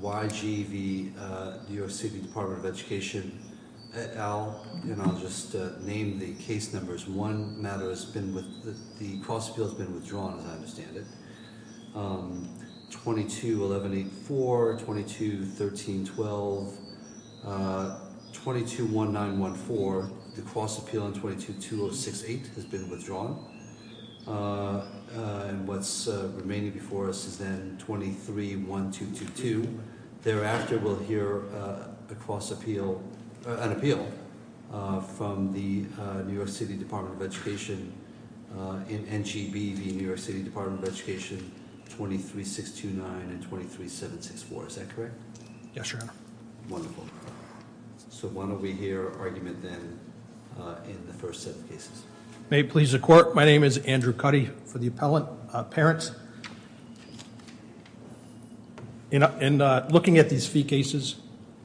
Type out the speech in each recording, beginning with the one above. Y. g. v. New York City Department of Education, et al. And I'll just name the case numbers. One matter has been with... the cross-appeal has been withdrawn, as I understand it. 22-1184, 22-1312, 22-1914, the cross-appeal on 22-2068 has been withdrawn. And what's remaining before us is then 23-1222. Thereafter, we'll hear a cross-appeal... an appeal from the New York City Department of Education in N.G.V. v. New York City Department of Education, 23-629 and 23-764. Is that correct? Yes, Your Honor. Wonderful. So when will we hear argument then in the first set of cases? May it please the Court, my name is Andrew Cuddy for the appellate parents. In looking at these fee cases,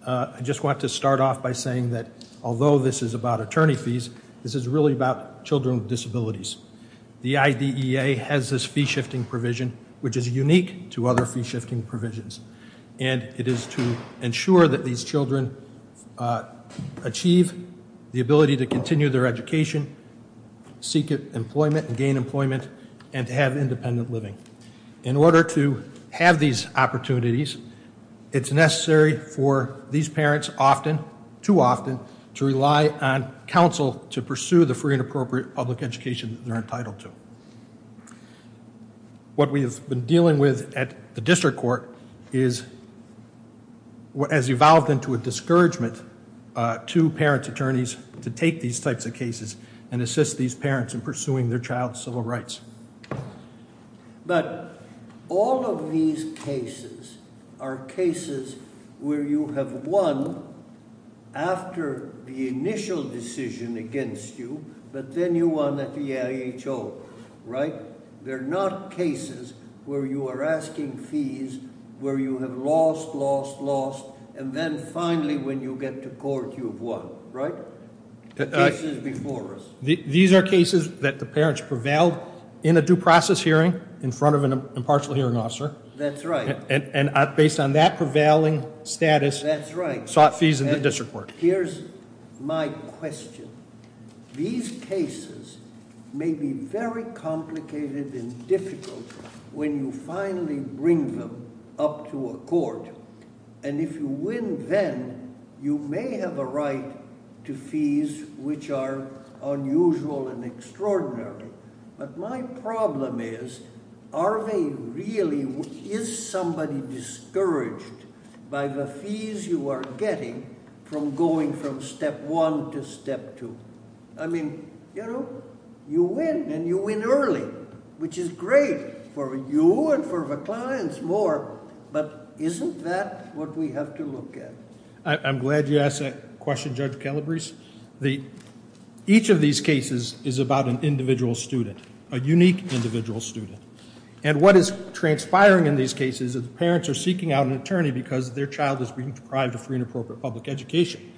I just want to start off by saying that although this is about attorney fees, this is really about children with disabilities. The IDEA has this fee-shifting provision, which is unique to other fee-shifting provisions. And it is to ensure that these children achieve the ability to continue their education, seek employment and gain employment, and to have independent living. In order to have these opportunities, it's necessary for these parents often, too often, to rely on counsel to pursue the free and appropriate public education that they're entitled to. What we have been dealing with at the district court is, has evolved into a discouragement to parent attorneys to take these types of cases and assist these parents in pursuing their child's civil rights. But all of these cases are cases where you have won after the initial decision against you, but then you won at the IHO, right? They're not cases where you are asking fees, where you have lost, lost, lost, and then finally when you get to court, you've won, right? Cases before us. These are cases that the parents prevailed in a due process hearing in front of an impartial hearing officer. That's right. And based on that prevailing status- That's right. Sought fees in the district court. Here's my question. These cases may be very complicated and difficult when you finally bring them up to a court. And if you win then, you may have a right to fees which are unusual and extraordinary. But my problem is, are they really, is somebody discouraged by the fees you are getting from going from step one to step two? I mean, you know, you win and you win early, which is great for you and for the clients more, but isn't that what we have to look at? I'm glad you asked that question, Judge Calabrese. Each of these cases is about an individual student, a unique individual student. And what is transpiring in these cases is the parents are seeking out an attorney because their child is being deprived of free and appropriate public education.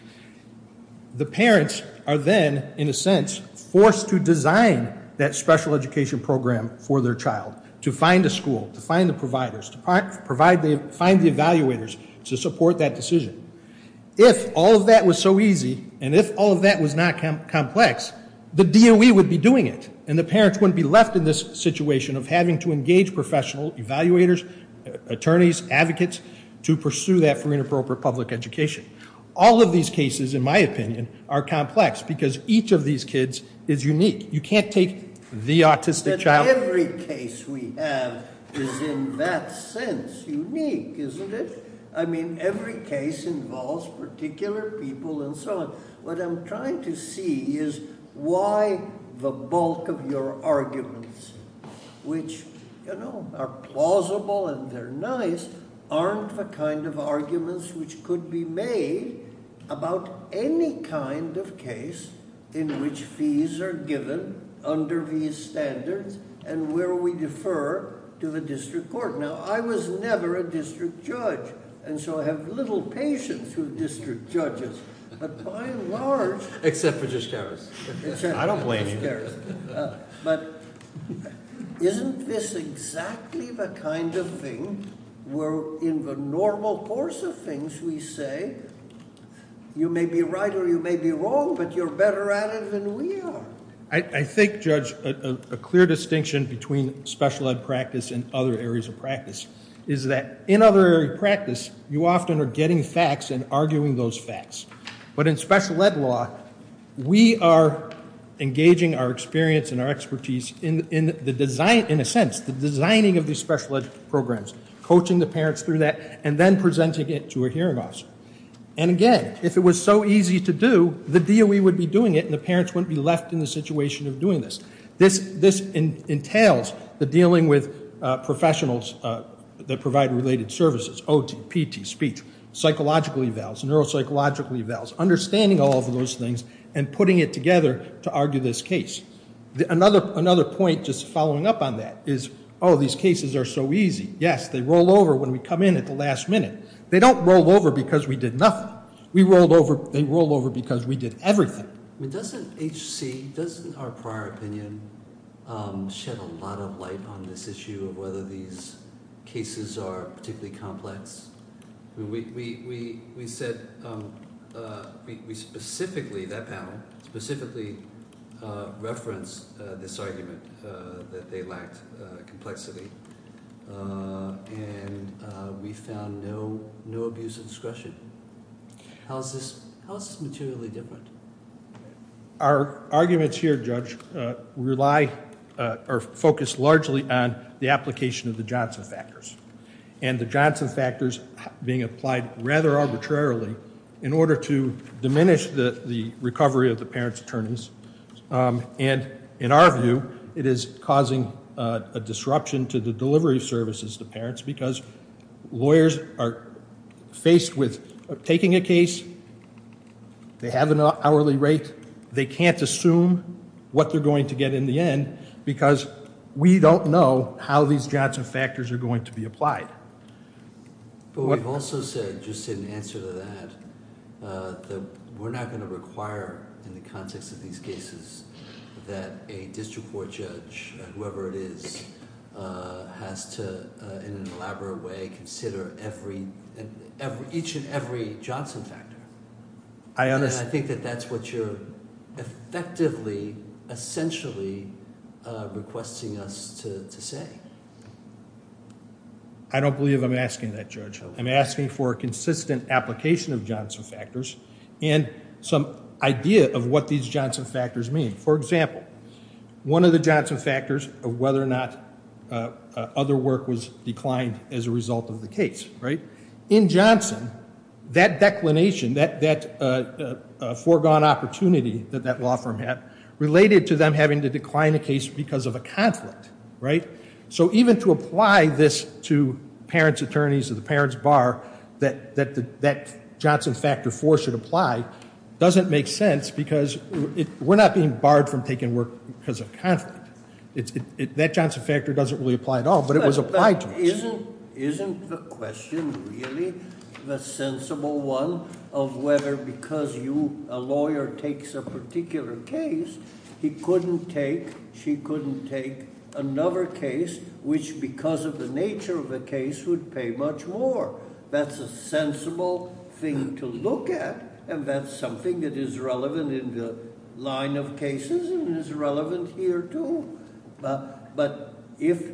The parents are then, in a sense, forced to design that special education program for their child, to find a school, to find the providers, to find the evaluators to support that decision. If all of that was so easy and if all of that was not complex, the DOE would be doing it and the parents wouldn't be left in this situation of having to engage professional evaluators, attorneys, advocates to pursue that free and appropriate public education. All of these cases, in my opinion, are complex because each of these kids is unique. You can't take the autistic child- But every case we have is in that sense unique, isn't it? I mean, every case involves particular people and so on. What I'm trying to see is why the bulk of your arguments, which, you know, are plausible and they're nice, aren't the kind of arguments which could be made about any kind of case in which fees are given under these standards and where we defer to the district court. Now, I was never a district judge, and so I have little patience with district judges. But by and large- Except for Judge Harris. I don't blame you. But isn't this exactly the kind of thing where in the normal course of things we say, you may be right or you may be wrong, but you're better at it than we are. I think, Judge, a clear distinction between special ed practice and other areas of practice is that in other areas of practice, you often are getting facts and arguing those facts. But in special ed law, we are engaging our experience and our expertise in a sense, the designing of these special ed programs, coaching the parents through that, and then presenting it to a hearing officer. And again, if it was so easy to do, the DOE would be doing it and the parents wouldn't be left in the situation of doing this. This entails the dealing with professionals that provide related services, OT, PT, speech, psychological evals, neuropsychological evals, understanding all of those things and putting it together to argue this case. Another point, just following up on that, is, oh, these cases are so easy. Yes, they roll over when we come in at the last minute. They don't roll over because we did nothing. They roll over because we did everything. Doesn't H.C., doesn't our prior opinion shed a lot of light on this issue of whether these cases are particularly complex? We said we specifically, that panel, specifically referenced this argument that they lacked complexity. And we found no abuse of discretion. How is this materially different? Our arguments here, Judge, rely or focus largely on the application of the Johnson factors. And the Johnson factors being applied rather arbitrarily in order to diminish the recovery of the parents' attorneys. And in our view, it is causing a disruption to the delivery of services to parents because lawyers are faced with taking a case, they have an hourly rate, they can't assume what they're going to get in the end because we don't know how these Johnson factors are going to be applied. But we've also said, just in answer to that, that we're not going to require in the context of these cases that a district court judge, whoever it is, has to, in an elaborate way, consider each and every Johnson factor. And I think that that's what you're effectively, essentially, requesting us to say. I don't believe I'm asking that, Judge. I'm asking for a consistent application of Johnson factors and some idea of what these Johnson factors mean. For example, one of the Johnson factors of whether or not other work was declined as a result of the case. In Johnson, that declination, that foregone opportunity that that law firm had, related to them having to decline a case because of a conflict. So even to apply this to parents' attorneys or the parents' bar, that that Johnson factor force should apply, doesn't make sense because we're not being barred from taking work because of conflict. That Johnson factor doesn't really apply at all, but it was applied to us. Isn't the question really the sensible one of whether because a lawyer takes a particular case, he couldn't take, she couldn't take another case which, because of the nature of the case, would pay much more? That's a sensible thing to look at, and that's something that is relevant in the line of cases and is relevant here, too. But if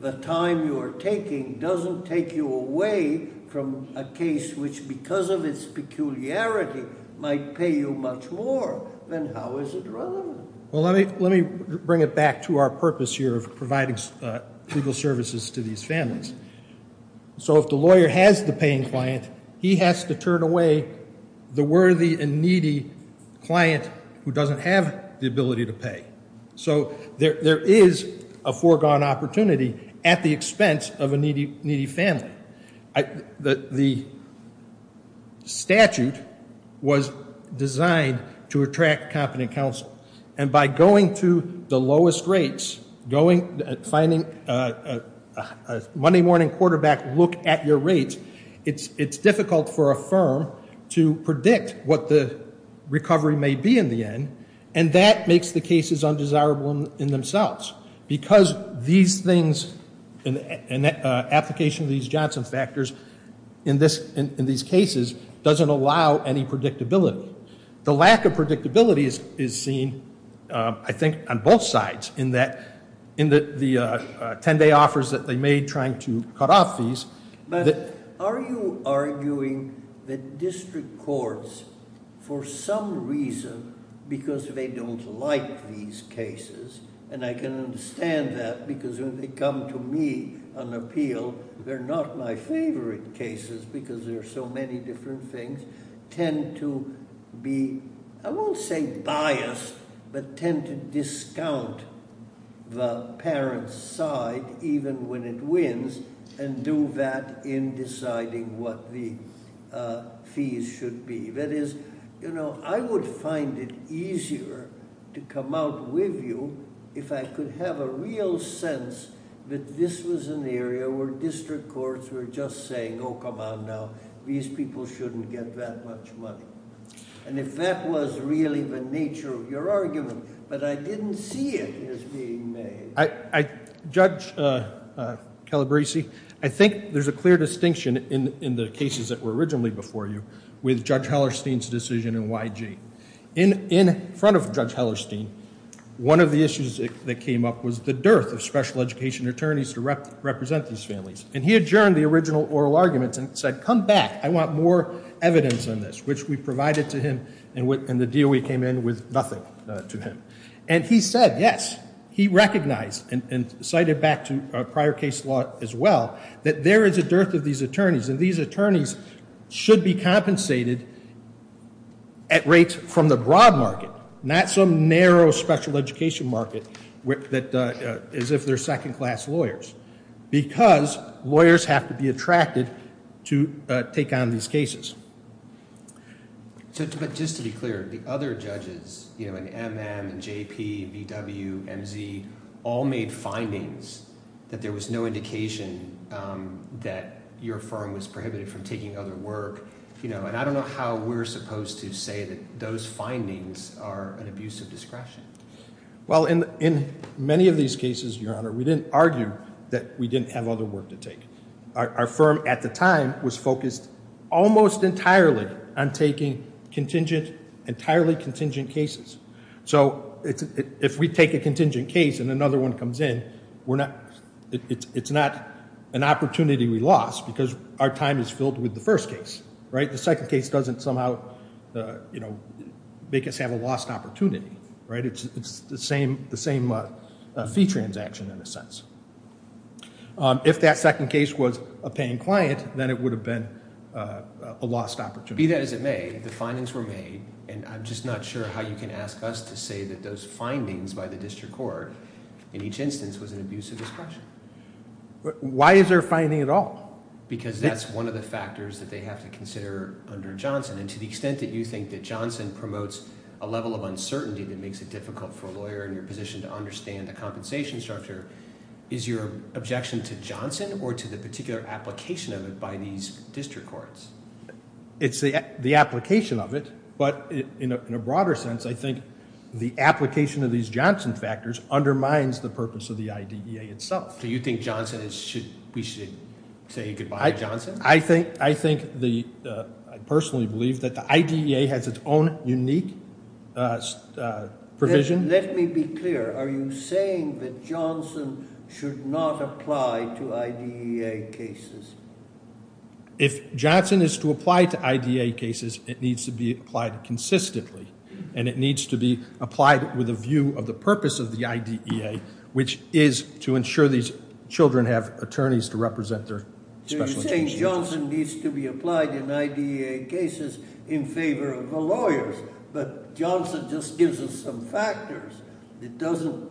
the time you are taking doesn't take you away from a case which, because of its peculiarity, might pay you much more, then how is it relevant? Well, let me bring it back to our purpose here of providing legal services to these families. So if the lawyer has the paying client, he has to turn away the worthy and needy client who doesn't have the ability to pay. So there is a foregone opportunity at the expense of a needy family. The statute was designed to attract competent counsel, and by going to the lowest rates, finding a Monday morning quarterback to look at your rates, it's difficult for a firm to predict what the recovery may be in the end, and that makes the cases undesirable in themselves, because these things and application of these Johnson factors in these cases doesn't allow any predictability. The lack of predictability is seen, I think, on both sides in the 10-day offers that they made trying to cut off fees. But are you arguing that district courts, for some reason, because they don't like these cases, and I can understand that because when they come to me on appeal, they're not my favorite cases because there are so many different things, tend to be, I won't say biased, but tend to discount the parent's side even when it wins and do that in deciding what the fees should be. That is, you know, I would find it easier to come out with you if I could have a real sense that this was an area where district courts were just saying, oh, come on now, these people shouldn't get that much money. And if that was really the nature of your argument, but I didn't see it as being made. Judge Calabresi, I think there's a clear distinction in the cases that were originally before you with Judge Hellerstein's decision in YG. In front of Judge Hellerstein, one of the issues that came up was the dearth of special education attorneys to represent these families. And he adjourned the original oral arguments and said, come back, I want more evidence on this, which we provided to him, and the DOE came in with nothing to him. And he said yes. He recognized and cited back to prior case law as well that there is a dearth of these attorneys, and these attorneys should be compensated at rates from the broad market, not some narrow special education market as if they're second-class lawyers, because lawyers have to be attracted to take on these cases. But just to be clear, the other judges in MM and JP, BW, MZ, all made findings that there was no indication that your firm was prohibited from taking other work. And I don't know how we're supposed to say that those findings are an abuse of discretion. Well, in many of these cases, Your Honor, we didn't argue that we didn't have other work to take. Our firm at the time was focused almost entirely on taking entirely contingent cases. So if we take a contingent case and another one comes in, it's not an opportunity we lost because our time is filled with the first case. The second case doesn't somehow make us have a lost opportunity. It's the same fee transaction in a sense. If that second case was a paying client, then it would have been a lost opportunity. Be that as it may, the findings were made, and I'm just not sure how you can ask us to say that those findings by the district court in each instance was an abuse of discretion. Why is there a finding at all? Because that's one of the factors that they have to consider under Johnson. And to the extent that you think that Johnson promotes a level of uncertainty that makes it difficult for a lawyer in your position to understand the compensation structure, is your objection to Johnson or to the particular application of it by these district courts? It's the application of it, but in a broader sense, I think the application of these Johnson factors undermines the purpose of the IDEA itself. Do you think we should say goodbye to Johnson? I personally believe that the IDEA has its own unique provision. Let me be clear. Are you saying that Johnson should not apply to IDEA cases? If Johnson is to apply to IDEA cases, it needs to be applied consistently, and it needs to be applied with a view of the purpose of the IDEA, which is to ensure these children have attorneys to represent their special needs. You're saying Johnson needs to be applied in IDEA cases in favor of the lawyers, but Johnson just gives us some factors. It doesn't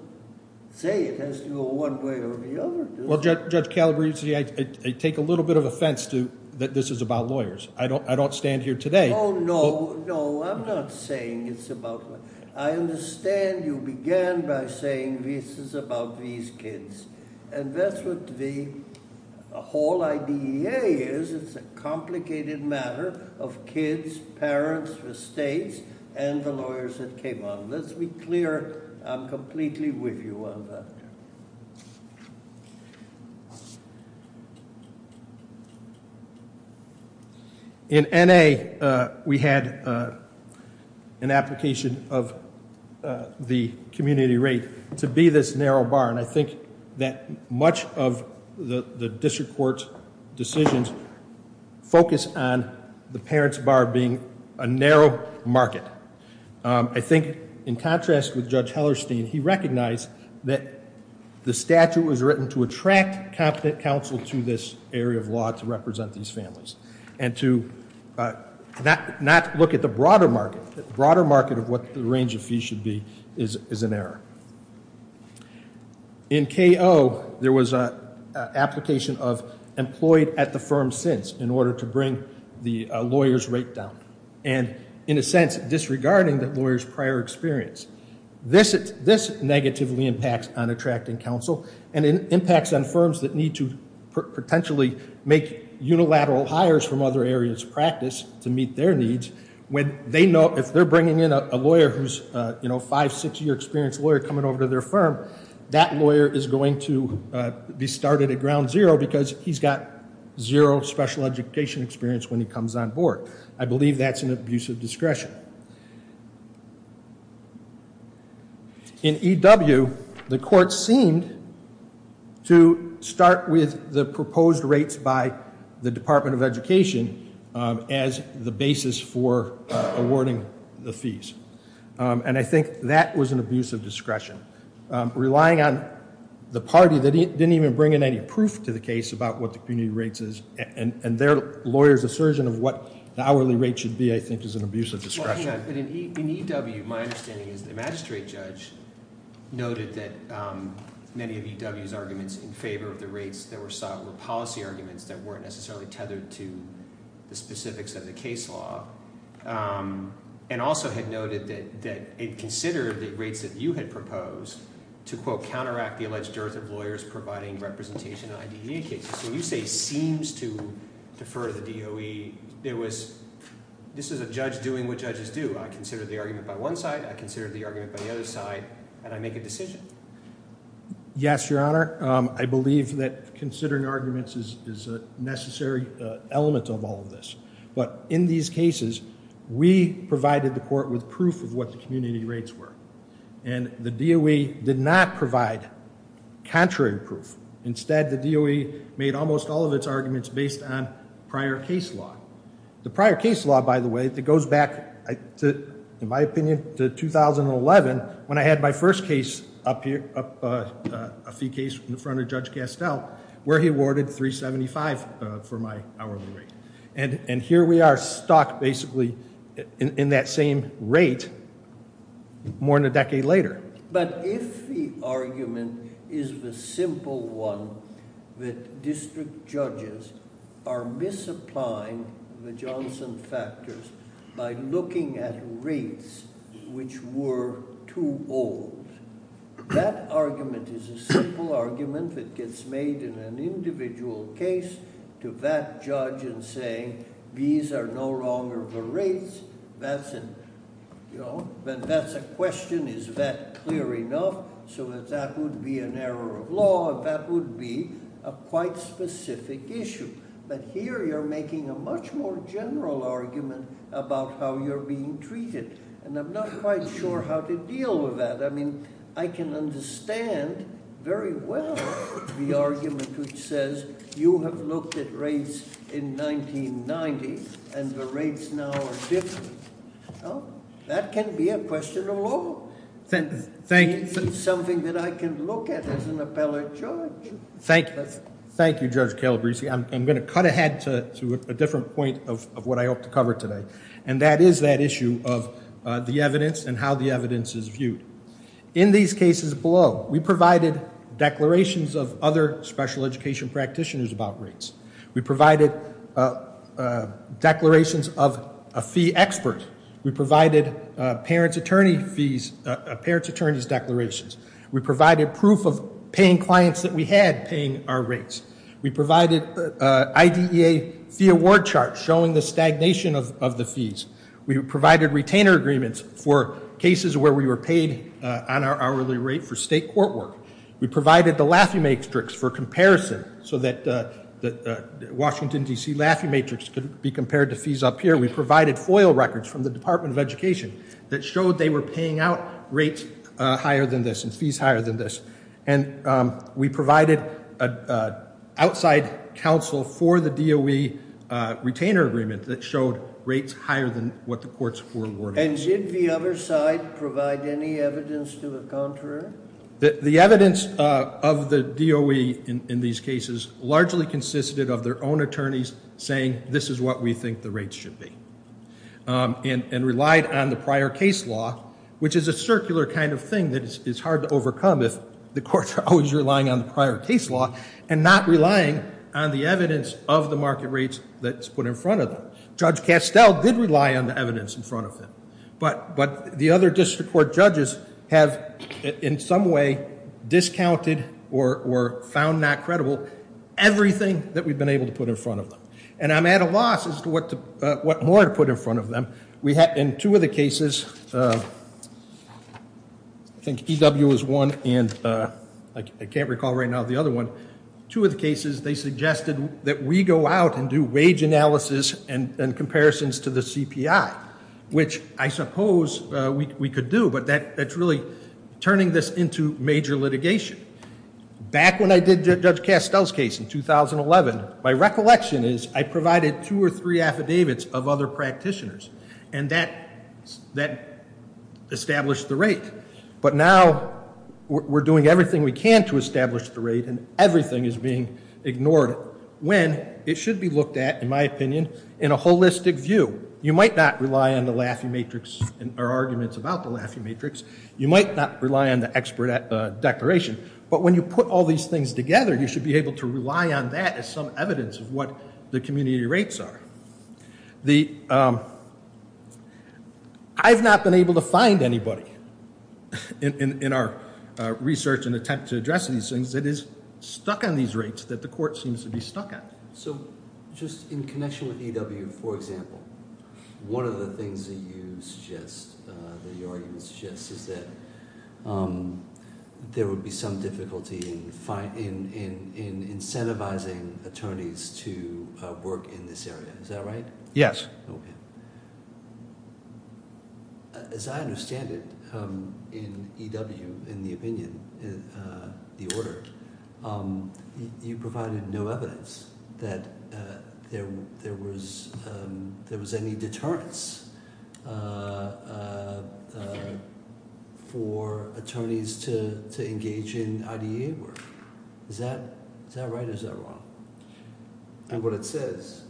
say it has to go one way or the other. Well, Judge Calabresi, I take a little bit of offense that this is about lawyers. I don't stand here today. Oh, no. No, I'm not saying it's about lawyers. I understand you began by saying this is about these kids, and that's what the whole IDEA is. It's a complicated matter of kids, parents, estates, and the lawyers that came on. Let's be clear. I'm completely with you on that. In N.A., we had an application of the community rate to be this narrow bar, and I think that much of the district court's decisions focus on the parents bar being a narrow market. I think in contrast with Judge Hellerstein, he recognized that the statute was written to attract competent counsel to this area of law to represent these families and to not look at the broader market. The broader market of what the range of fees should be is an error. In K.O., there was an application of employed at the firm since in order to bring the lawyer's rate down, and in a sense disregarding the lawyer's prior experience. This negatively impacts on attracting counsel, and it impacts on firms that need to potentially make unilateral hires from other areas of practice to meet their needs when they know if they're bringing in a lawyer who's a five, six-year experience lawyer coming over to their firm, that lawyer is going to be started at ground zero because he's got zero special education experience when he comes on board. I believe that's an abuse of discretion. In E.W., the court seemed to start with the proposed rates by the Department of Education as the basis for awarding the fees, and I think that was an abuse of discretion. Relying on the party that didn't even bring in any proof to the case about what the community rates is and their lawyer's assertion of what the hourly rate should be, I think, is an abuse of discretion. In E.W., my understanding is the magistrate judge noted that many of E.W.'s arguments in favor of the rates that were sought were policy arguments that weren't necessarily tethered to the specifics of the case law and also had noted that it considered the rates that you had proposed to, quote, the alleged dearth of lawyers providing representation in IDEA cases. So when you say seems to defer the DOE, this is a judge doing what judges do. I consider the argument by one side, I consider the argument by the other side, and I make a decision. Yes, Your Honor. I believe that considering arguments is a necessary element of all of this, but in these cases, we provided the court with proof of what the community rates were, and the DOE did not provide contrary proof. Instead, the DOE made almost all of its arguments based on prior case law. The prior case law, by the way, that goes back, in my opinion, to 2011 when I had my first case up here, a fee case in front of Judge Castell, where he awarded 375 for my hourly rate. And here we are stocked basically in that same rate more than a decade later. But if the argument is the simple one that district judges are misapplying the Johnson factors by looking at rates which were too old, that argument is a simple argument that gets made in an individual case to that judge in saying these are no longer the rates. That's a question, is that clear enough, so that that would be an error of law, and that would be a quite specific issue. But here you're making a much more general argument about how you're being treated, and I'm not quite sure how to deal with that. I mean, I can understand very well the argument which says you have looked at rates in 1990, and the rates now are different. Well, that can be a question of law. It's something that I can look at as an appellate judge. Thank you, Judge Calabresi. I'm going to cut ahead to a different point of what I hope to cover today, and that is that issue of the evidence and how the evidence is viewed. In these cases below, we provided declarations of other special education practitioners about rates. We provided declarations of a fee expert. We provided a parent's attorney's declarations. We provided proof of paying clients that we had paying our rates. We provided IDEA fee award charts showing the stagnation of the fees. We provided retainer agreements for cases where we were paid on our hourly rate for state court work. We provided the Laffey Matrix for comparison so that the Washington, D.C., Laffey Matrix could be compared to fees up here. We provided FOIL records from the Department of Education that showed they were paying out rates higher than this and fees higher than this. And we provided outside counsel for the DOE retainer agreement that showed rates higher than what the courts were awarding. And did the other side provide any evidence to the contrary? The evidence of the DOE in these cases largely consisted of their own attorneys saying, this is what we think the rates should be, and relied on the prior case law, which is a circular kind of thing that is hard to overcome if the courts are always relying on the prior case law and not relying on the evidence of the market rates that's put in front of them. Judge Castell did rely on the evidence in front of him. But the other district court judges have in some way discounted or found not credible everything that we've been able to put in front of them. And I'm at a loss as to what more to put in front of them. In two of the cases, I think EW is one, and I can't recall right now the other one. Two of the cases, they suggested that we go out and do wage analysis and comparisons to the CPI. Which I suppose we could do, but that's really turning this into major litigation. Back when I did Judge Castell's case in 2011, my recollection is I provided two or three affidavits of other practitioners, and that established the rate. But now we're doing everything we can to establish the rate, and everything is being ignored. When it should be looked at, in my opinion, in a holistic view. You might not rely on the Laffey Matrix, or arguments about the Laffey Matrix. You might not rely on the expert declaration. But when you put all these things together, you should be able to rely on that as some evidence of what the community rates are. I've not been able to find anybody in our research and attempt to address these things that is stuck on these rates that the court seems to be stuck at. So just in connection with EW, for example, one of the things that you suggest, that your argument suggests, is that there would be some difficulty in incentivizing attorneys to work in this area. Is that right? Yes. As I understand it, in EW, in the opinion, the order, you provided no evidence that there was any deterrence for attorneys to engage in IDA work. Is that right, or is that wrong? And what it says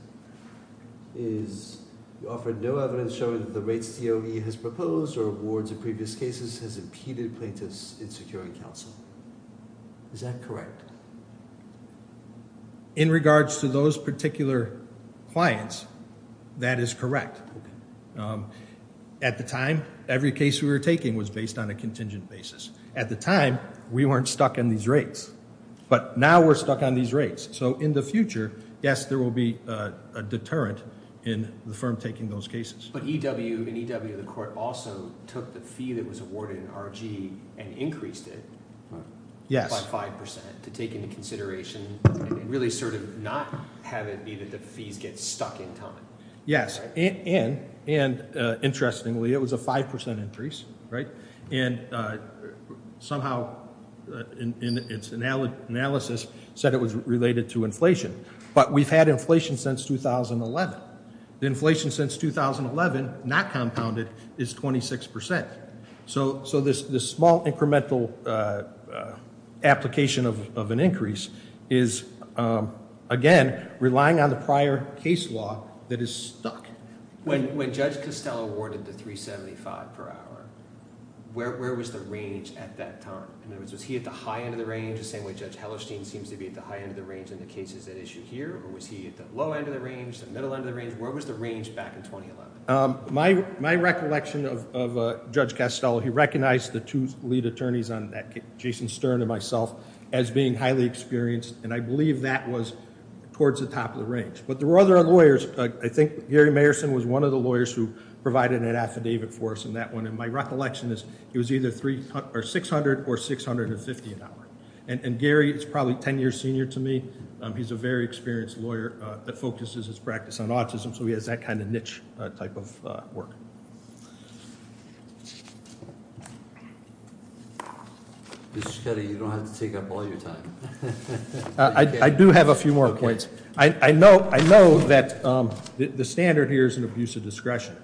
is, you offered no evidence showing that the rates DOE has proposed, or awards in previous cases, has impeded plaintiffs in securing counsel. Is that correct? In regards to those particular clients, that is correct. At the time, every case we were taking was based on a contingent basis. At the time, we weren't stuck on these rates. But now we're stuck on these rates. So in the future, yes, there will be a deterrent in the firm taking those cases. But EW, in EW, the court also took the fee that was awarded in RG and increased it by 5% to take into consideration, and really sort of not have it be that the fees get stuck in time. Yes. And interestingly, it was a 5% increase. And somehow, in its analysis, said it was related to inflation. But we've had inflation since 2011. The inflation since 2011, not compounded, is 26%. So this small incremental application of an increase is, again, relying on the prior case law that is stuck. When Judge Costello awarded the 375 per hour, where was the range at that time? In other words, was he at the high end of the range, the same way Judge Hellerstein seems to be at the high end of the range in the cases at issue here? Or was he at the low end of the range, the middle end of the range? Where was the range back in 2011? My recollection of Judge Costello, he recognized the two lead attorneys on that case, Jason Stern and myself, as being highly experienced. And I believe that was towards the top of the range. But there were other lawyers. I think Gary Mayerson was one of the lawyers who provided an affidavit for us on that one. And my recollection is he was either 600 or 650 an hour. And Gary is probably 10 years senior to me. He's a very experienced lawyer that focuses his practice on autism. So he has that kind of niche type of work. Mr. Scuddi, you don't have to take up all your time. I do have a few more points. I know that the standard here is an abuse of discretion.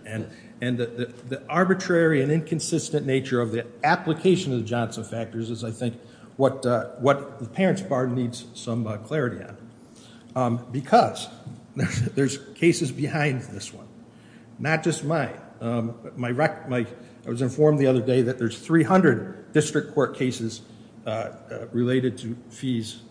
And the arbitrary and inconsistent nature of the application of the Johnson factors is, I think, what the parents' bar needs some clarity on. Because there's cases behind this one. Not just mine. I was informed the other day that there's 300 district court cases related to fees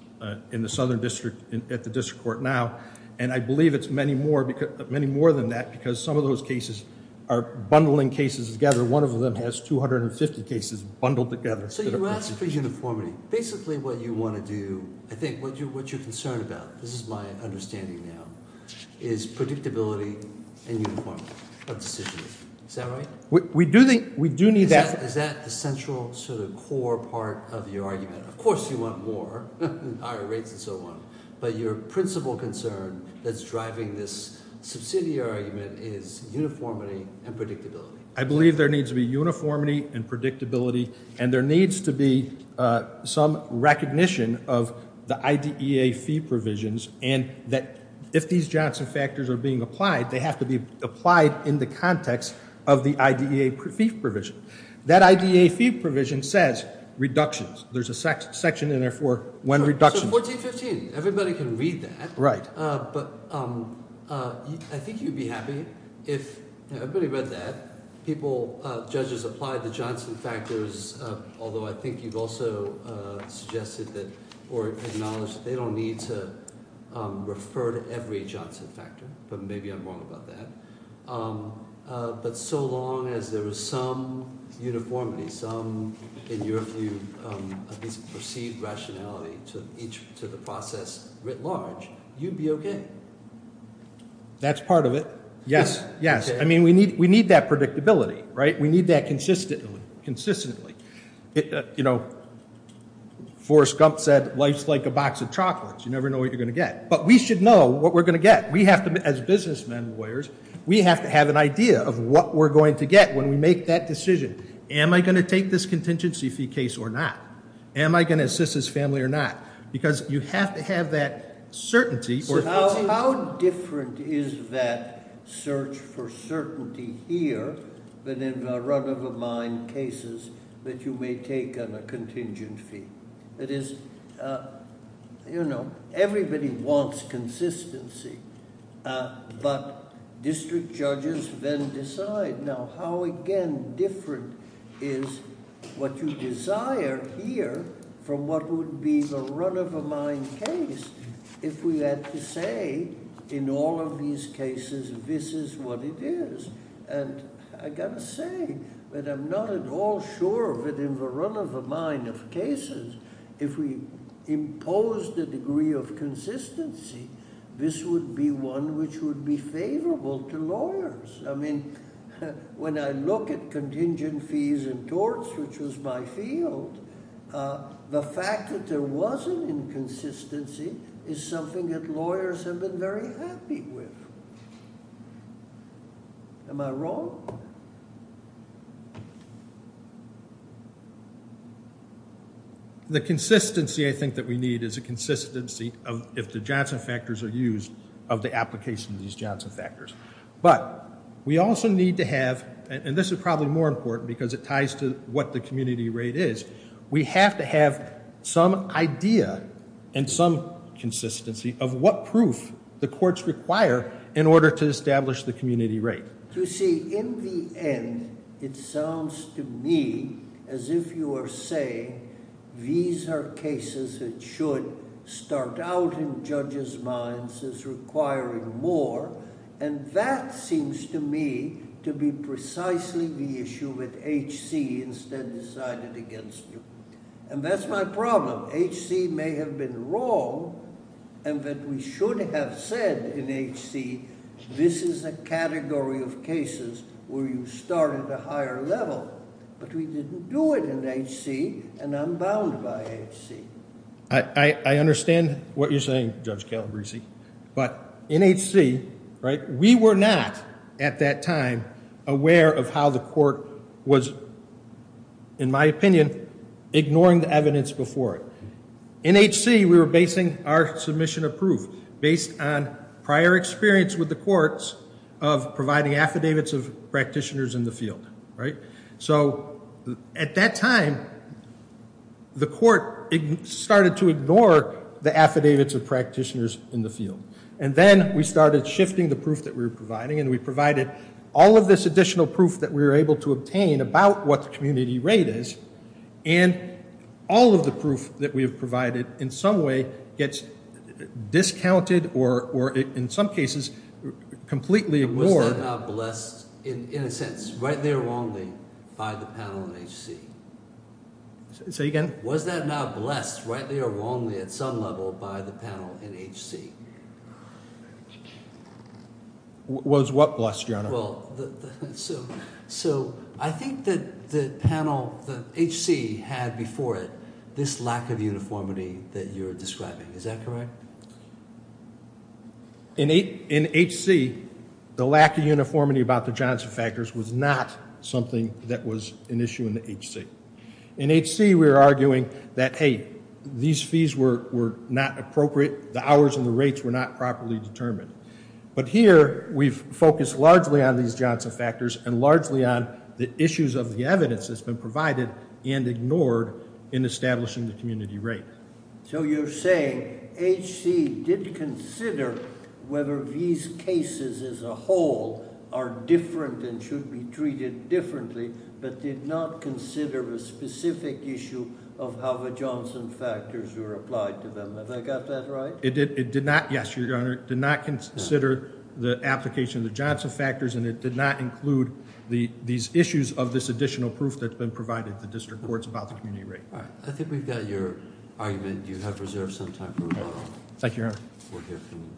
in the southern district at the district court now. And I believe it's many more than that because some of those cases are bundling cases together. One of them has 250 cases bundled together. So you asked for uniformity. Basically what you want to do, I think, what you're concerned about, this is my understanding now, is predictability and uniformity of decisions. Is that right? We do need that. Is that the central sort of core part of your argument? Of course you want more, higher rates and so on. But your principal concern that's driving this subsidiary is uniformity and predictability. I believe there needs to be uniformity and predictability. And there needs to be some recognition of the IDEA fee provisions. And that if these Johnson factors are being applied, they have to be applied in the context of the IDEA fee provision. That IDEA fee provision says reductions. There's a section in there for when reductions. So 1415. Everybody can read that. Right. But I think you'd be happy if everybody read that. People, judges applied the Johnson factors, although I think you've also suggested that or acknowledged they don't need to refer to every Johnson factor. But maybe I'm wrong about that. But so long as there is some uniformity, some, in your view, at least perceived rationality to the process writ large, you'd be okay. That's part of it. Yes, yes. I mean, we need that predictability, right? We need that consistently. Forrest Gump said, life's like a box of chocolates. You never know what you're going to get. But we should know what we're going to get. We have to, as businessmen and lawyers, we have to have an idea of what we're going to get when we make that decision. Am I going to take this contingency fee case or not? Am I going to assist this family or not? Because you have to have that certainty. So how different is that search for certainty here than in the run-of-a-mind cases that you may take on a contingent fee? It is, you know, everybody wants consistency. But district judges then decide. Now, how, again, different is what you desire here from what would be the run-of-a-mind case if we had to say, in all of these cases, this is what it is? And I've got to say that I'm not at all sure that in the run-of-a-mind of cases, if we impose the degree of consistency, this would be one which would be favorable to lawyers. I mean, when I look at contingent fees and torts, which was my field, the fact that there was an inconsistency is something that lawyers have been very happy with. Am I wrong? The consistency, I think, that we need is a consistency of if the Johnson factors are used, of the application of these Johnson factors. But we also need to have, and this is probably more important because it ties to what the community rate is, we have to have some idea and some consistency of what proof the courts require in order to establish the community rate. You see, in the end, it sounds to me as if you are saying these are cases that should start out in judges' minds as requiring more, and that seems to me to be precisely the issue that HC instead decided against you. And that's my problem. HC may have been wrong, and that we should have said in HC, this is a category of cases where you start at a higher level. But we didn't do it in HC, and I'm bound by HC. I understand what you're saying, Judge Calabrese, but in HC, we were not, at that time, aware of how the court was, in my opinion, ignoring the evidence before it. In HC, we were basing our submission of proof based on prior experience with the courts of providing affidavits of practitioners in the field. So at that time, the court started to ignore the affidavits of practitioners in the field. And then we started shifting the proof that we were providing, and we provided all of this additional proof that we were able to obtain about what the community rate is. And all of the proof that we have provided, in some way, gets discounted or, in some cases, completely ignored. Was that not blessed, in a sense, rightly or wrongly, by the panel in HC? Say again? Was that not blessed, rightly or wrongly, at some level, by the panel in HC? Was what blessed, Your Honor? So I think that the panel, that HC had before it, this lack of uniformity that you're describing. Is that correct? In HC, the lack of uniformity about the Johnson factors was not something that was an issue in HC. In HC, we were arguing that, hey, these fees were not appropriate. The hours and the rates were not properly determined. But here, we've focused largely on these Johnson factors and largely on the issues of the evidence that's been provided and ignored in establishing the community rate. So you're saying HC did consider whether these cases as a whole are different and should be treated differently, but did not consider a specific issue of how the Johnson factors were applied to them. Have I got that right? It did not, yes, Your Honor, did not consider the application of the Johnson factors, and it did not include these issues of this additional proof that's been provided to the district courts about the community rate. All right, I think we've got your argument. You have reserved some time for rebuttal. Thank you, Your Honor. We'll hear from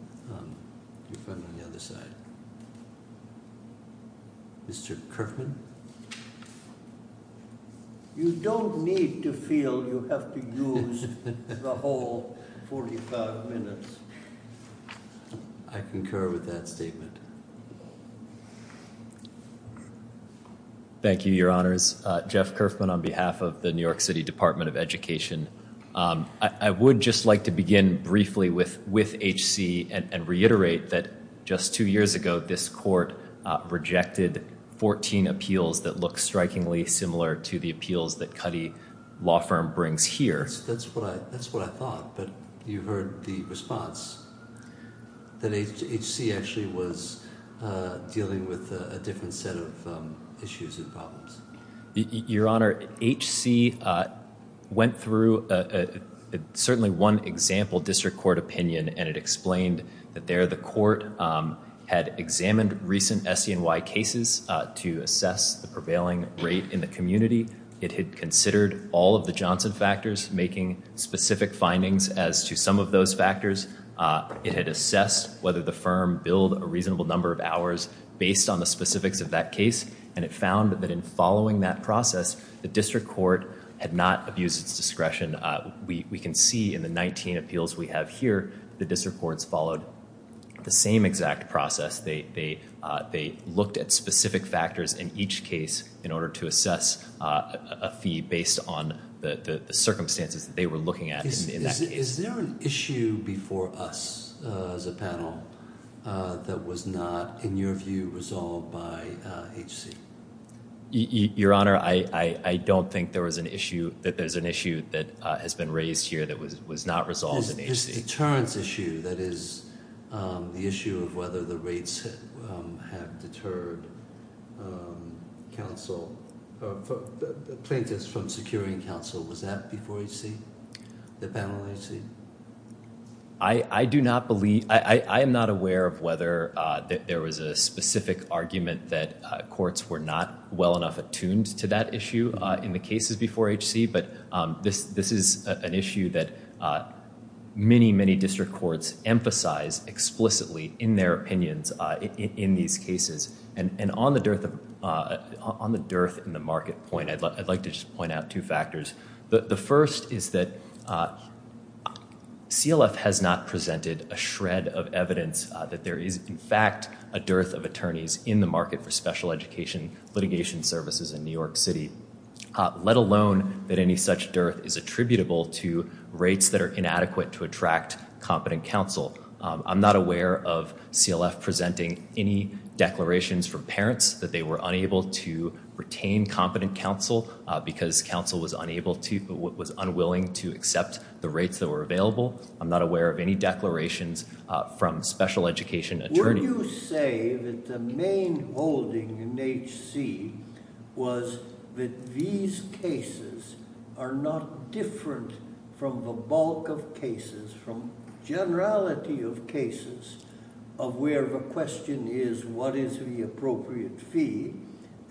your friend on the other side. Mr. Kerfman? You don't need to feel you have to use the whole 45 minutes. I concur with that statement. Thank you, Your Honors. Jeff Kerfman on behalf of the New York City Department of Education. I would just like to begin briefly with HC and reiterate that just two years ago, this court rejected 14 appeals that look strikingly similar to the appeals that Cuddy Law Firm brings here. That's what I thought, but you heard the response that HC actually was dealing with a different set of issues and problems. Your Honor, HC went through certainly one example district court opinion, and it explained that there the court had examined recent SCNY cases to assess the prevailing rate in the community. It had considered all of the Johnson factors, making specific findings as to some of those factors. It had assessed whether the firm billed a reasonable number of hours based on the specifics of that case, and it found that in following that process, the district court had not abused its discretion. We can see in the 19 appeals we have here, the district courts followed the same exact process. They looked at specific factors in each case in order to assess a fee based on the circumstances that they were looking at. Is there an issue before us as a panel that was not, in your view, resolved by HC? Your Honor, I don't think that there's an issue that has been raised here that was not resolved in HC. The deterrence issue, that is the issue of whether the rates have deterred plaintiffs from securing counsel, was that before HC, the panel in HC? I am not aware of whether there was a specific argument that courts were not well enough attuned to that issue in the cases before HC, but this is an issue that many, many district courts emphasize explicitly in their opinions in these cases. And on the dearth in the market point, I'd like to just point out two factors. The first is that CLF has not presented a shred of evidence that there is, in fact, a dearth of attorneys in the market for special education litigation services in New York City, let alone that any such dearth is attributable to rates that are inadequate to attract competent counsel. I'm not aware of CLF presenting any declarations from parents that they were unable to retain competent counsel because counsel was unable to, was unwilling to accept the rates that were available. I'm not aware of any declarations from special education attorneys. Would you say that the main holding in HC was that these cases are not different from the bulk of cases, from generality of cases of where the question is, what is the appropriate fee?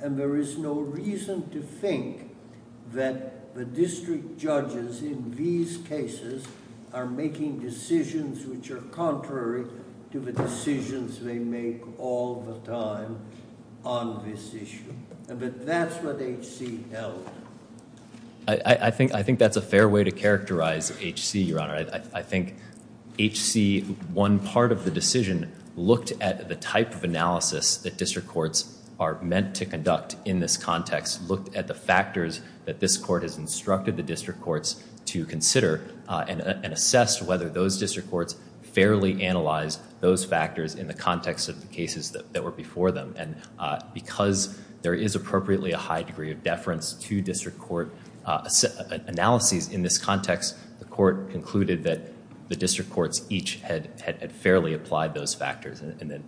And there is no reason to think that the district judges in these cases are making decisions which are contrary to the decisions they make all the time on this issue. But that's what HC held. I think that's a fair way to characterize HC, Your Honor. I think HC, one part of the decision, looked at the type of analysis that district courts are meant to conduct in this context, looked at the factors that this court has instructed the district courts to consider and assessed whether those district courts fairly analyzed those factors in the context of the cases that were before them. And because there is appropriately a high degree of deference to district court analyses in this context, the court concluded that the district courts each had fairly applied those factors. And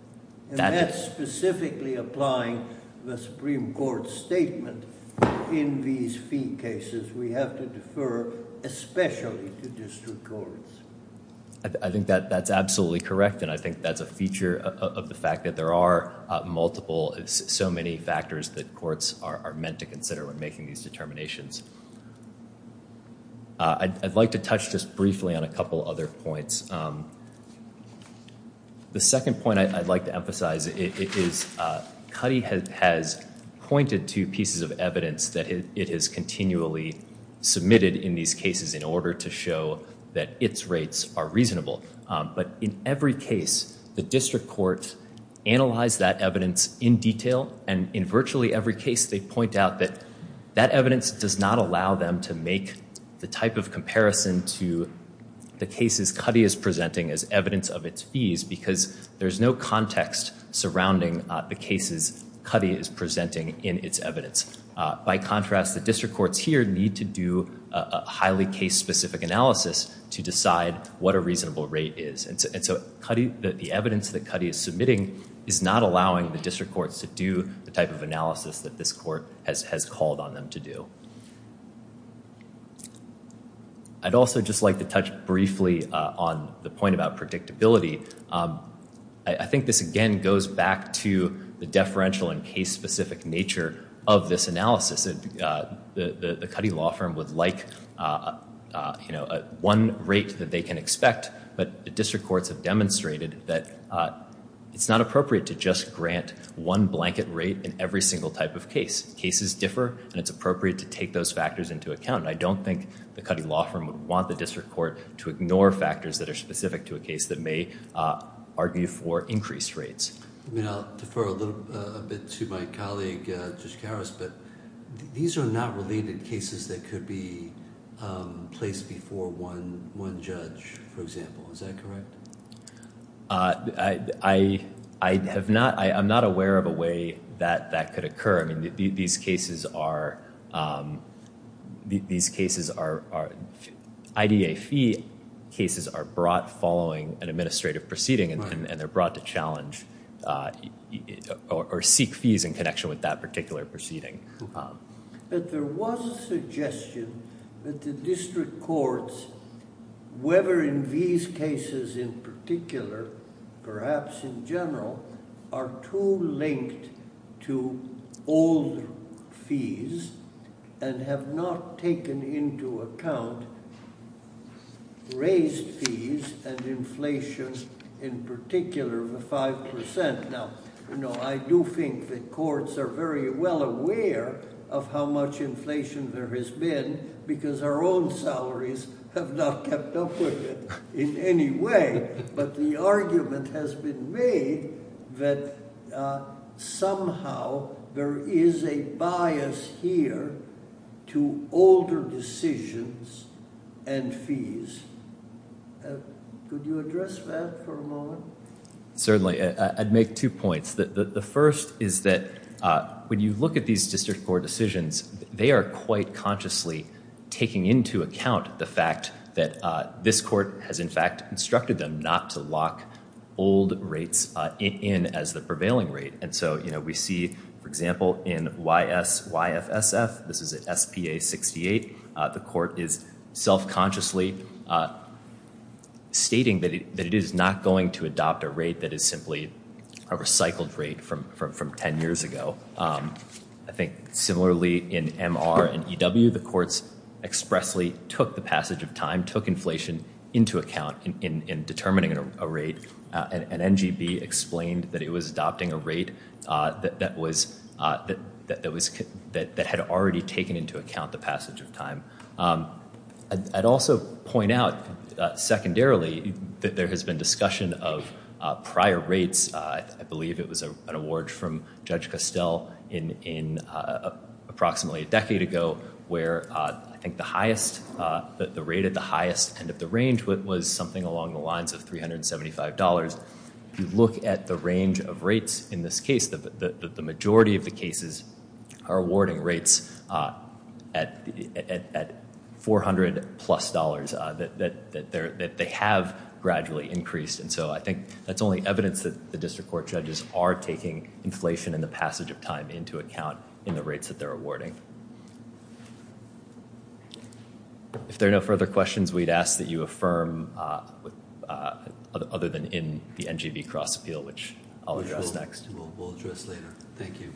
that's specifically applying the Supreme Court statement. In these fee cases, we have to defer especially to district courts. I think that's absolutely correct, and I think that's a feature of the fact that there are multiple, so many factors that courts are meant to consider when making these determinations. I'd like to touch just briefly on a couple other points. The second point I'd like to emphasize is Cuddy has pointed to pieces of evidence that it has continually submitted in these cases in order to show that its rates are reasonable. But in every case, the district courts analyze that evidence in detail, and in virtually every case they point out that that evidence does not allow them to make the type of comparison to the cases Cuddy is presenting as evidence of its fees, because there's no context surrounding the cases Cuddy is presenting in its evidence. By contrast, the district courts here need to do a highly case-specific analysis to decide what a reasonable rate is. And so the evidence that Cuddy is submitting is not allowing the district courts to do the type of analysis that this court has called on them to do. I'd also just like to touch briefly on the point about predictability. I think this, again, goes back to the deferential and case-specific nature of this analysis. The Cuddy law firm would like, you know, one rate that they can expect, but the district courts have demonstrated that it's not appropriate to just grant one blanket rate in every single type of case. Cases differ, and it's appropriate to take those factors into account. I don't think the Cuddy law firm would want the district court to ignore factors that are specific to a case that may argue for increased rates. I mean, I'll defer a little bit to my colleague, Judge Karas, but these are not related cases that could be placed before one judge, for example. Is that correct? I'm not aware of a way that that could occur. I mean, these cases are IDA fee cases are brought following an administrative proceeding, and they're brought to challenge or seek fees in connection with that particular proceeding. But there was a suggestion that the district courts, whether in these cases in particular, perhaps in general, are too linked to old fees and have not taken into account raised fees and inflation in particular of the 5%. Now, I do think that courts are very well aware of how much inflation there has been because our own salaries have not kept up with it in any way. But the argument has been made that somehow there is a bias here to older decisions and fees. Could you address that for a moment? Certainly. I'd make two points. The first is that when you look at these district court decisions, they are quite consciously taking into account the fact that this court has, in fact, instructed them not to lock old rates in as the prevailing rate. And so, you know, we see, for example, in YFSF, this is at SPA 68, the court is self-consciously stating that it is not going to adopt a rate that is simply a recycled rate from 10 years ago. I think similarly in MR and EW, the courts expressly took the passage of time, took inflation into account in determining a rate. And NGB explained that it was adopting a rate that had already taken into account the passage of time. I'd also point out secondarily that there has been discussion of prior rates. I believe it was an award from Judge Costell approximately a decade ago, where I think the rate at the highest end of the range was something along the lines of $375. If you look at the range of rates in this case, the majority of the cases are awarding rates at $400-plus, that they have gradually increased. And so I think that's only evidence that the district court judges are taking inflation and the passage of time into account in the rates that they're awarding. If there are no further questions, we'd ask that you affirm other than in the NGB cross-appeal, which I'll address next. We'll address later. Thank you.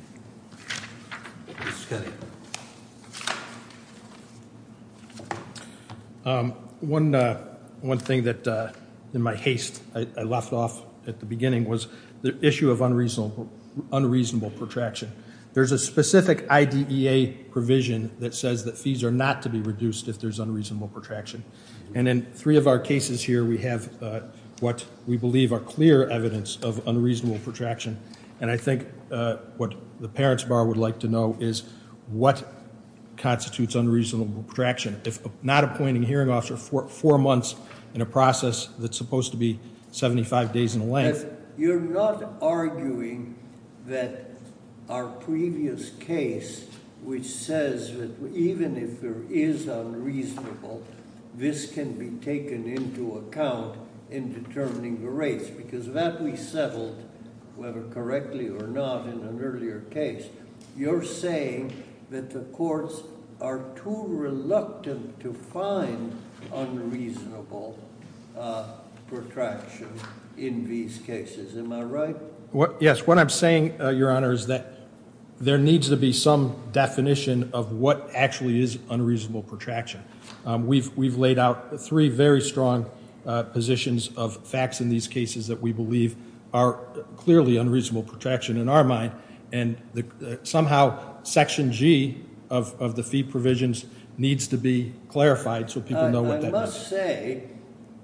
Mr. Scully. One thing that in my haste I left off at the beginning was the issue of unreasonable protraction. There's a specific IDEA provision that says that fees are not to be reduced if there's unreasonable protraction. And in three of our cases here, we have what we believe are clear evidence of unreasonable protraction. And I think what the parents' bar would like to know is what constitutes unreasonable protraction. If not appointing a hearing officer four months in a process that's supposed to be 75 days in length. You're not arguing that our previous case, which says that even if there is unreasonable, this can be taken into account in determining the rates, because that we settled, whether correctly or not, in an earlier case. You're saying that the courts are too reluctant to find unreasonable protraction in these cases. Am I right? Yes. What I'm saying, Your Honor, is that there needs to be some definition of what actually is unreasonable protraction. We've laid out three very strong positions of facts in these cases that we believe are clearly unreasonable protraction in our mind. And somehow Section G of the fee provisions needs to be clarified so people know what that is. I must say,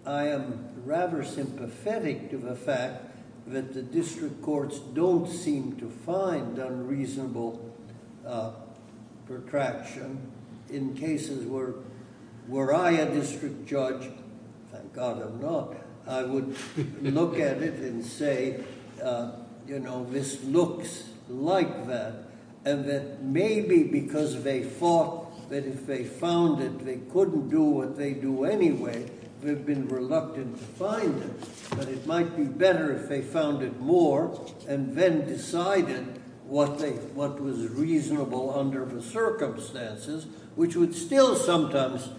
I am rather sympathetic to the fact that the district courts don't seem to find unreasonable protraction in cases where, were I a district judge? Thank God I'm not. I would look at it and say, you know, this looks like that. And that maybe because they thought that if they found it, they couldn't do what they do anyway, they've been reluctant to find it. But it might be better if they found it more and then decided what was reasonable under the circumstances, which would still sometimes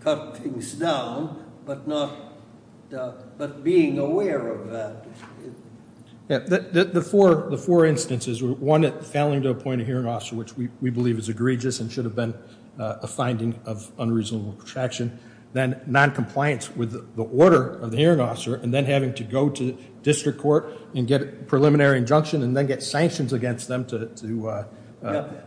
cut things down, but being aware of that. The four instances, one, failing to appoint a hearing officer, which we believe is egregious and should have been a finding of unreasonable protraction, then noncompliance with the order of the hearing officer, and then having to go to district court and get a preliminary injunction and then get sanctions against them to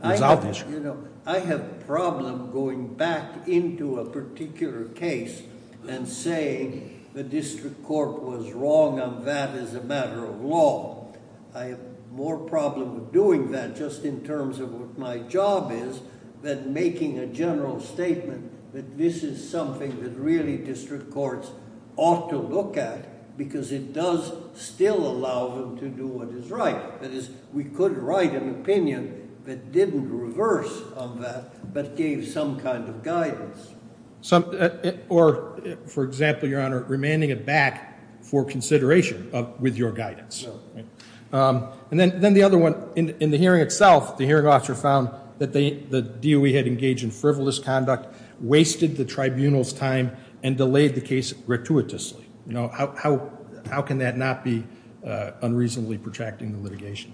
resolve the issue. You know, I have a problem going back into a particular case and saying the district court was wrong on that as a matter of law. I have more problem doing that just in terms of what my job is than making a general statement that this is something that really district courts ought to look at because it does still allow them to do what is right. That is, we could write an opinion that didn't reverse on that but gave some kind of guidance. Or, for example, Your Honor, remanding it back for consideration with your guidance. And then the other one, in the hearing itself, the hearing officer found that the DOE had engaged in frivolous conduct, wasted the tribunal's time, and delayed the case gratuitously. How can that not be unreasonably protracting the litigation?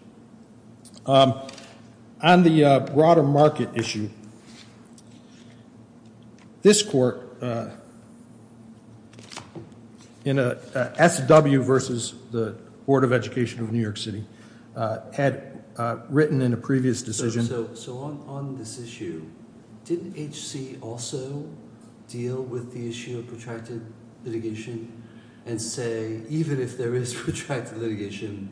On the broader market issue, this court, SW versus the Board of Education of New York City, had written in a previous decision- and say, even if there is protracted litigation,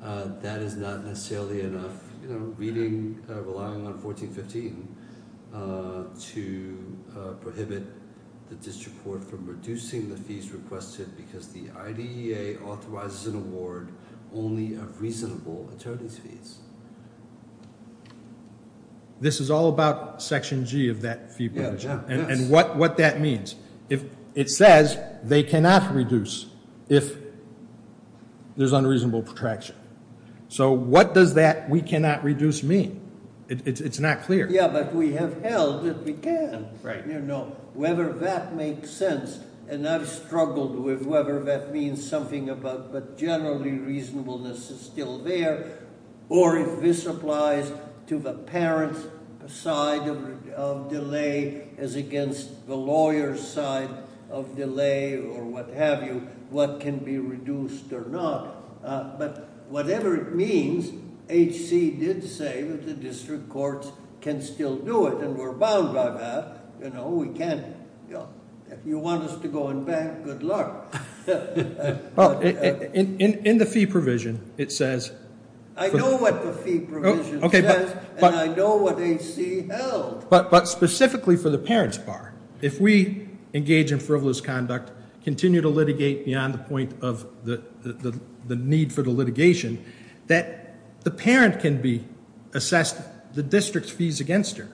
that is not necessarily enough. You know, relying on 1415 to prohibit the district court from reducing the fees requested because the IDEA authorizes an award only of reasonable attorneys' fees. This is all about Section G of that fee provision. And what that means. It says they cannot reduce if there's unreasonable protraction. So what does that we cannot reduce mean? It's not clear. Yeah, but we have held that we can. Right. Whether that makes sense, and I've struggled with whether that means something about, but generally reasonableness is still there. Or if this applies to the parent's side of delay as against the lawyer's side of delay, or what have you, what can be reduced or not. But whatever it means, HC did say that the district courts can still do it, and we're bound by that. You know, we can. If you want us to go and beg, good luck. In the fee provision, it says- I know what the fee provision says, and I know what HC held. But specifically for the parent's part, if we engage in frivolous conduct, continue to litigate beyond the point of the need for the litigation, that the parent can be assessed the district's fees against her.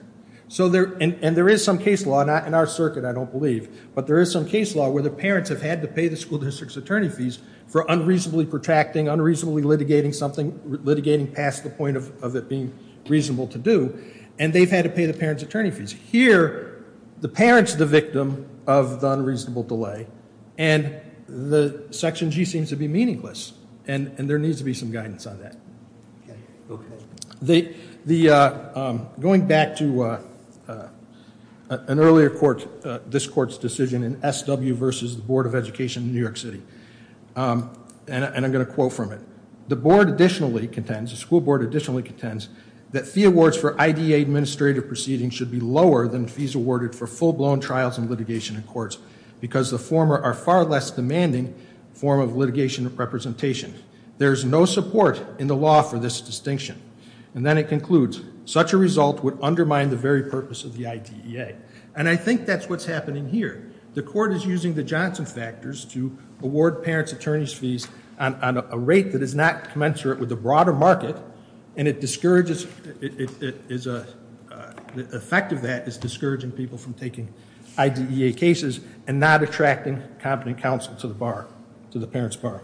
And there is some case law in our circuit, I don't believe, but there is some case law where the parents have had to pay the school district's attorney fees for unreasonably protracting, unreasonably litigating something, litigating past the point of it being reasonable to do. And they've had to pay the parent's attorney fees. Here, the parent's the victim of the unreasonable delay, and the section G seems to be meaningless. And there needs to be some guidance on that. Going back to an earlier court, this court's decision in SW versus the Board of Education in New York City, and I'm going to quote from it. The school board additionally contends that fee awards for IDEA administrative proceedings should be lower than fees awarded for full-blown trials and litigation in courts. Because the former are far less demanding form of litigation representation. There's no support in the law for this distinction. And then it concludes, such a result would undermine the very purpose of the IDEA. And I think that's what's happening here. The court is using the Johnson factors to award parent's attorney's fees on a rate that is not commensurate with the broader market. And it discourages, the effect of that is discouraging people from taking IDEA cases and not attracting competent counsel to the bar, to the parent's bar.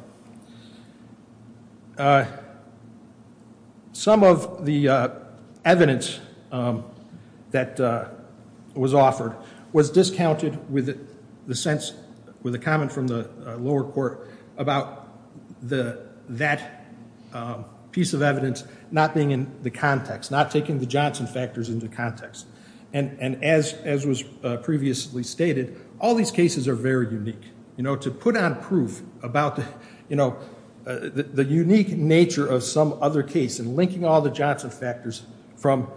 Some of the evidence that was offered was discounted with the sense, with a comment from the lower court about that piece of evidence not being in the context. Not taking the Johnson factors into context. And as was previously stated, all these cases are very unique. To put on proof about the unique nature of some other case and linking all the Johnson factors from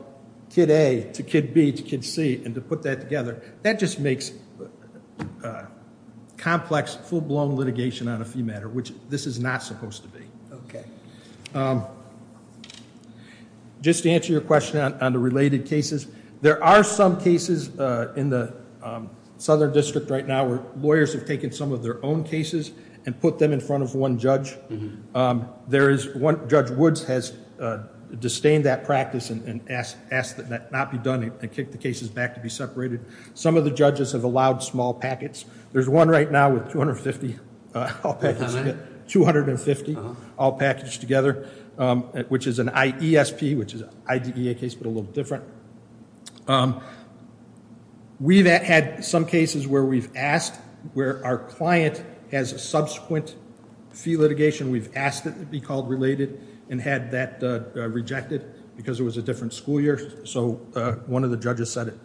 kid A to kid B to kid C and to put that together. That just makes complex, full-blown litigation on a fee matter, which this is not supposed to be. Okay, just to answer your question on the related cases. There are some cases in the Southern District right now, where lawyers have taken some of their own cases and put them in front of one judge. There is one, Judge Woods has disdained that practice and asked that that not be done and kicked the cases back to be separated. Some of the judges have allowed small packets. There's one right now with 250 all packaged together. Which is an IESP, which is an IDEA case, but a little different. We've had some cases where we've asked, where our client has a subsequent fee litigation. We've asked it to be called related and had that rejected because it was a different school year. So one of the judges said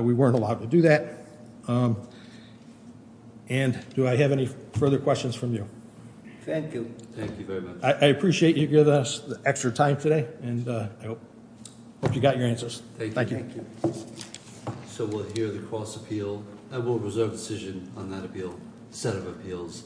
we weren't allowed to do that. And do I have any further questions from you? Thank you. Thank you very much. I appreciate you give us the extra time today and I hope you got your answers. Thank you. So we'll hear the cross appeal and we'll reserve decision on that appeal set of appeals.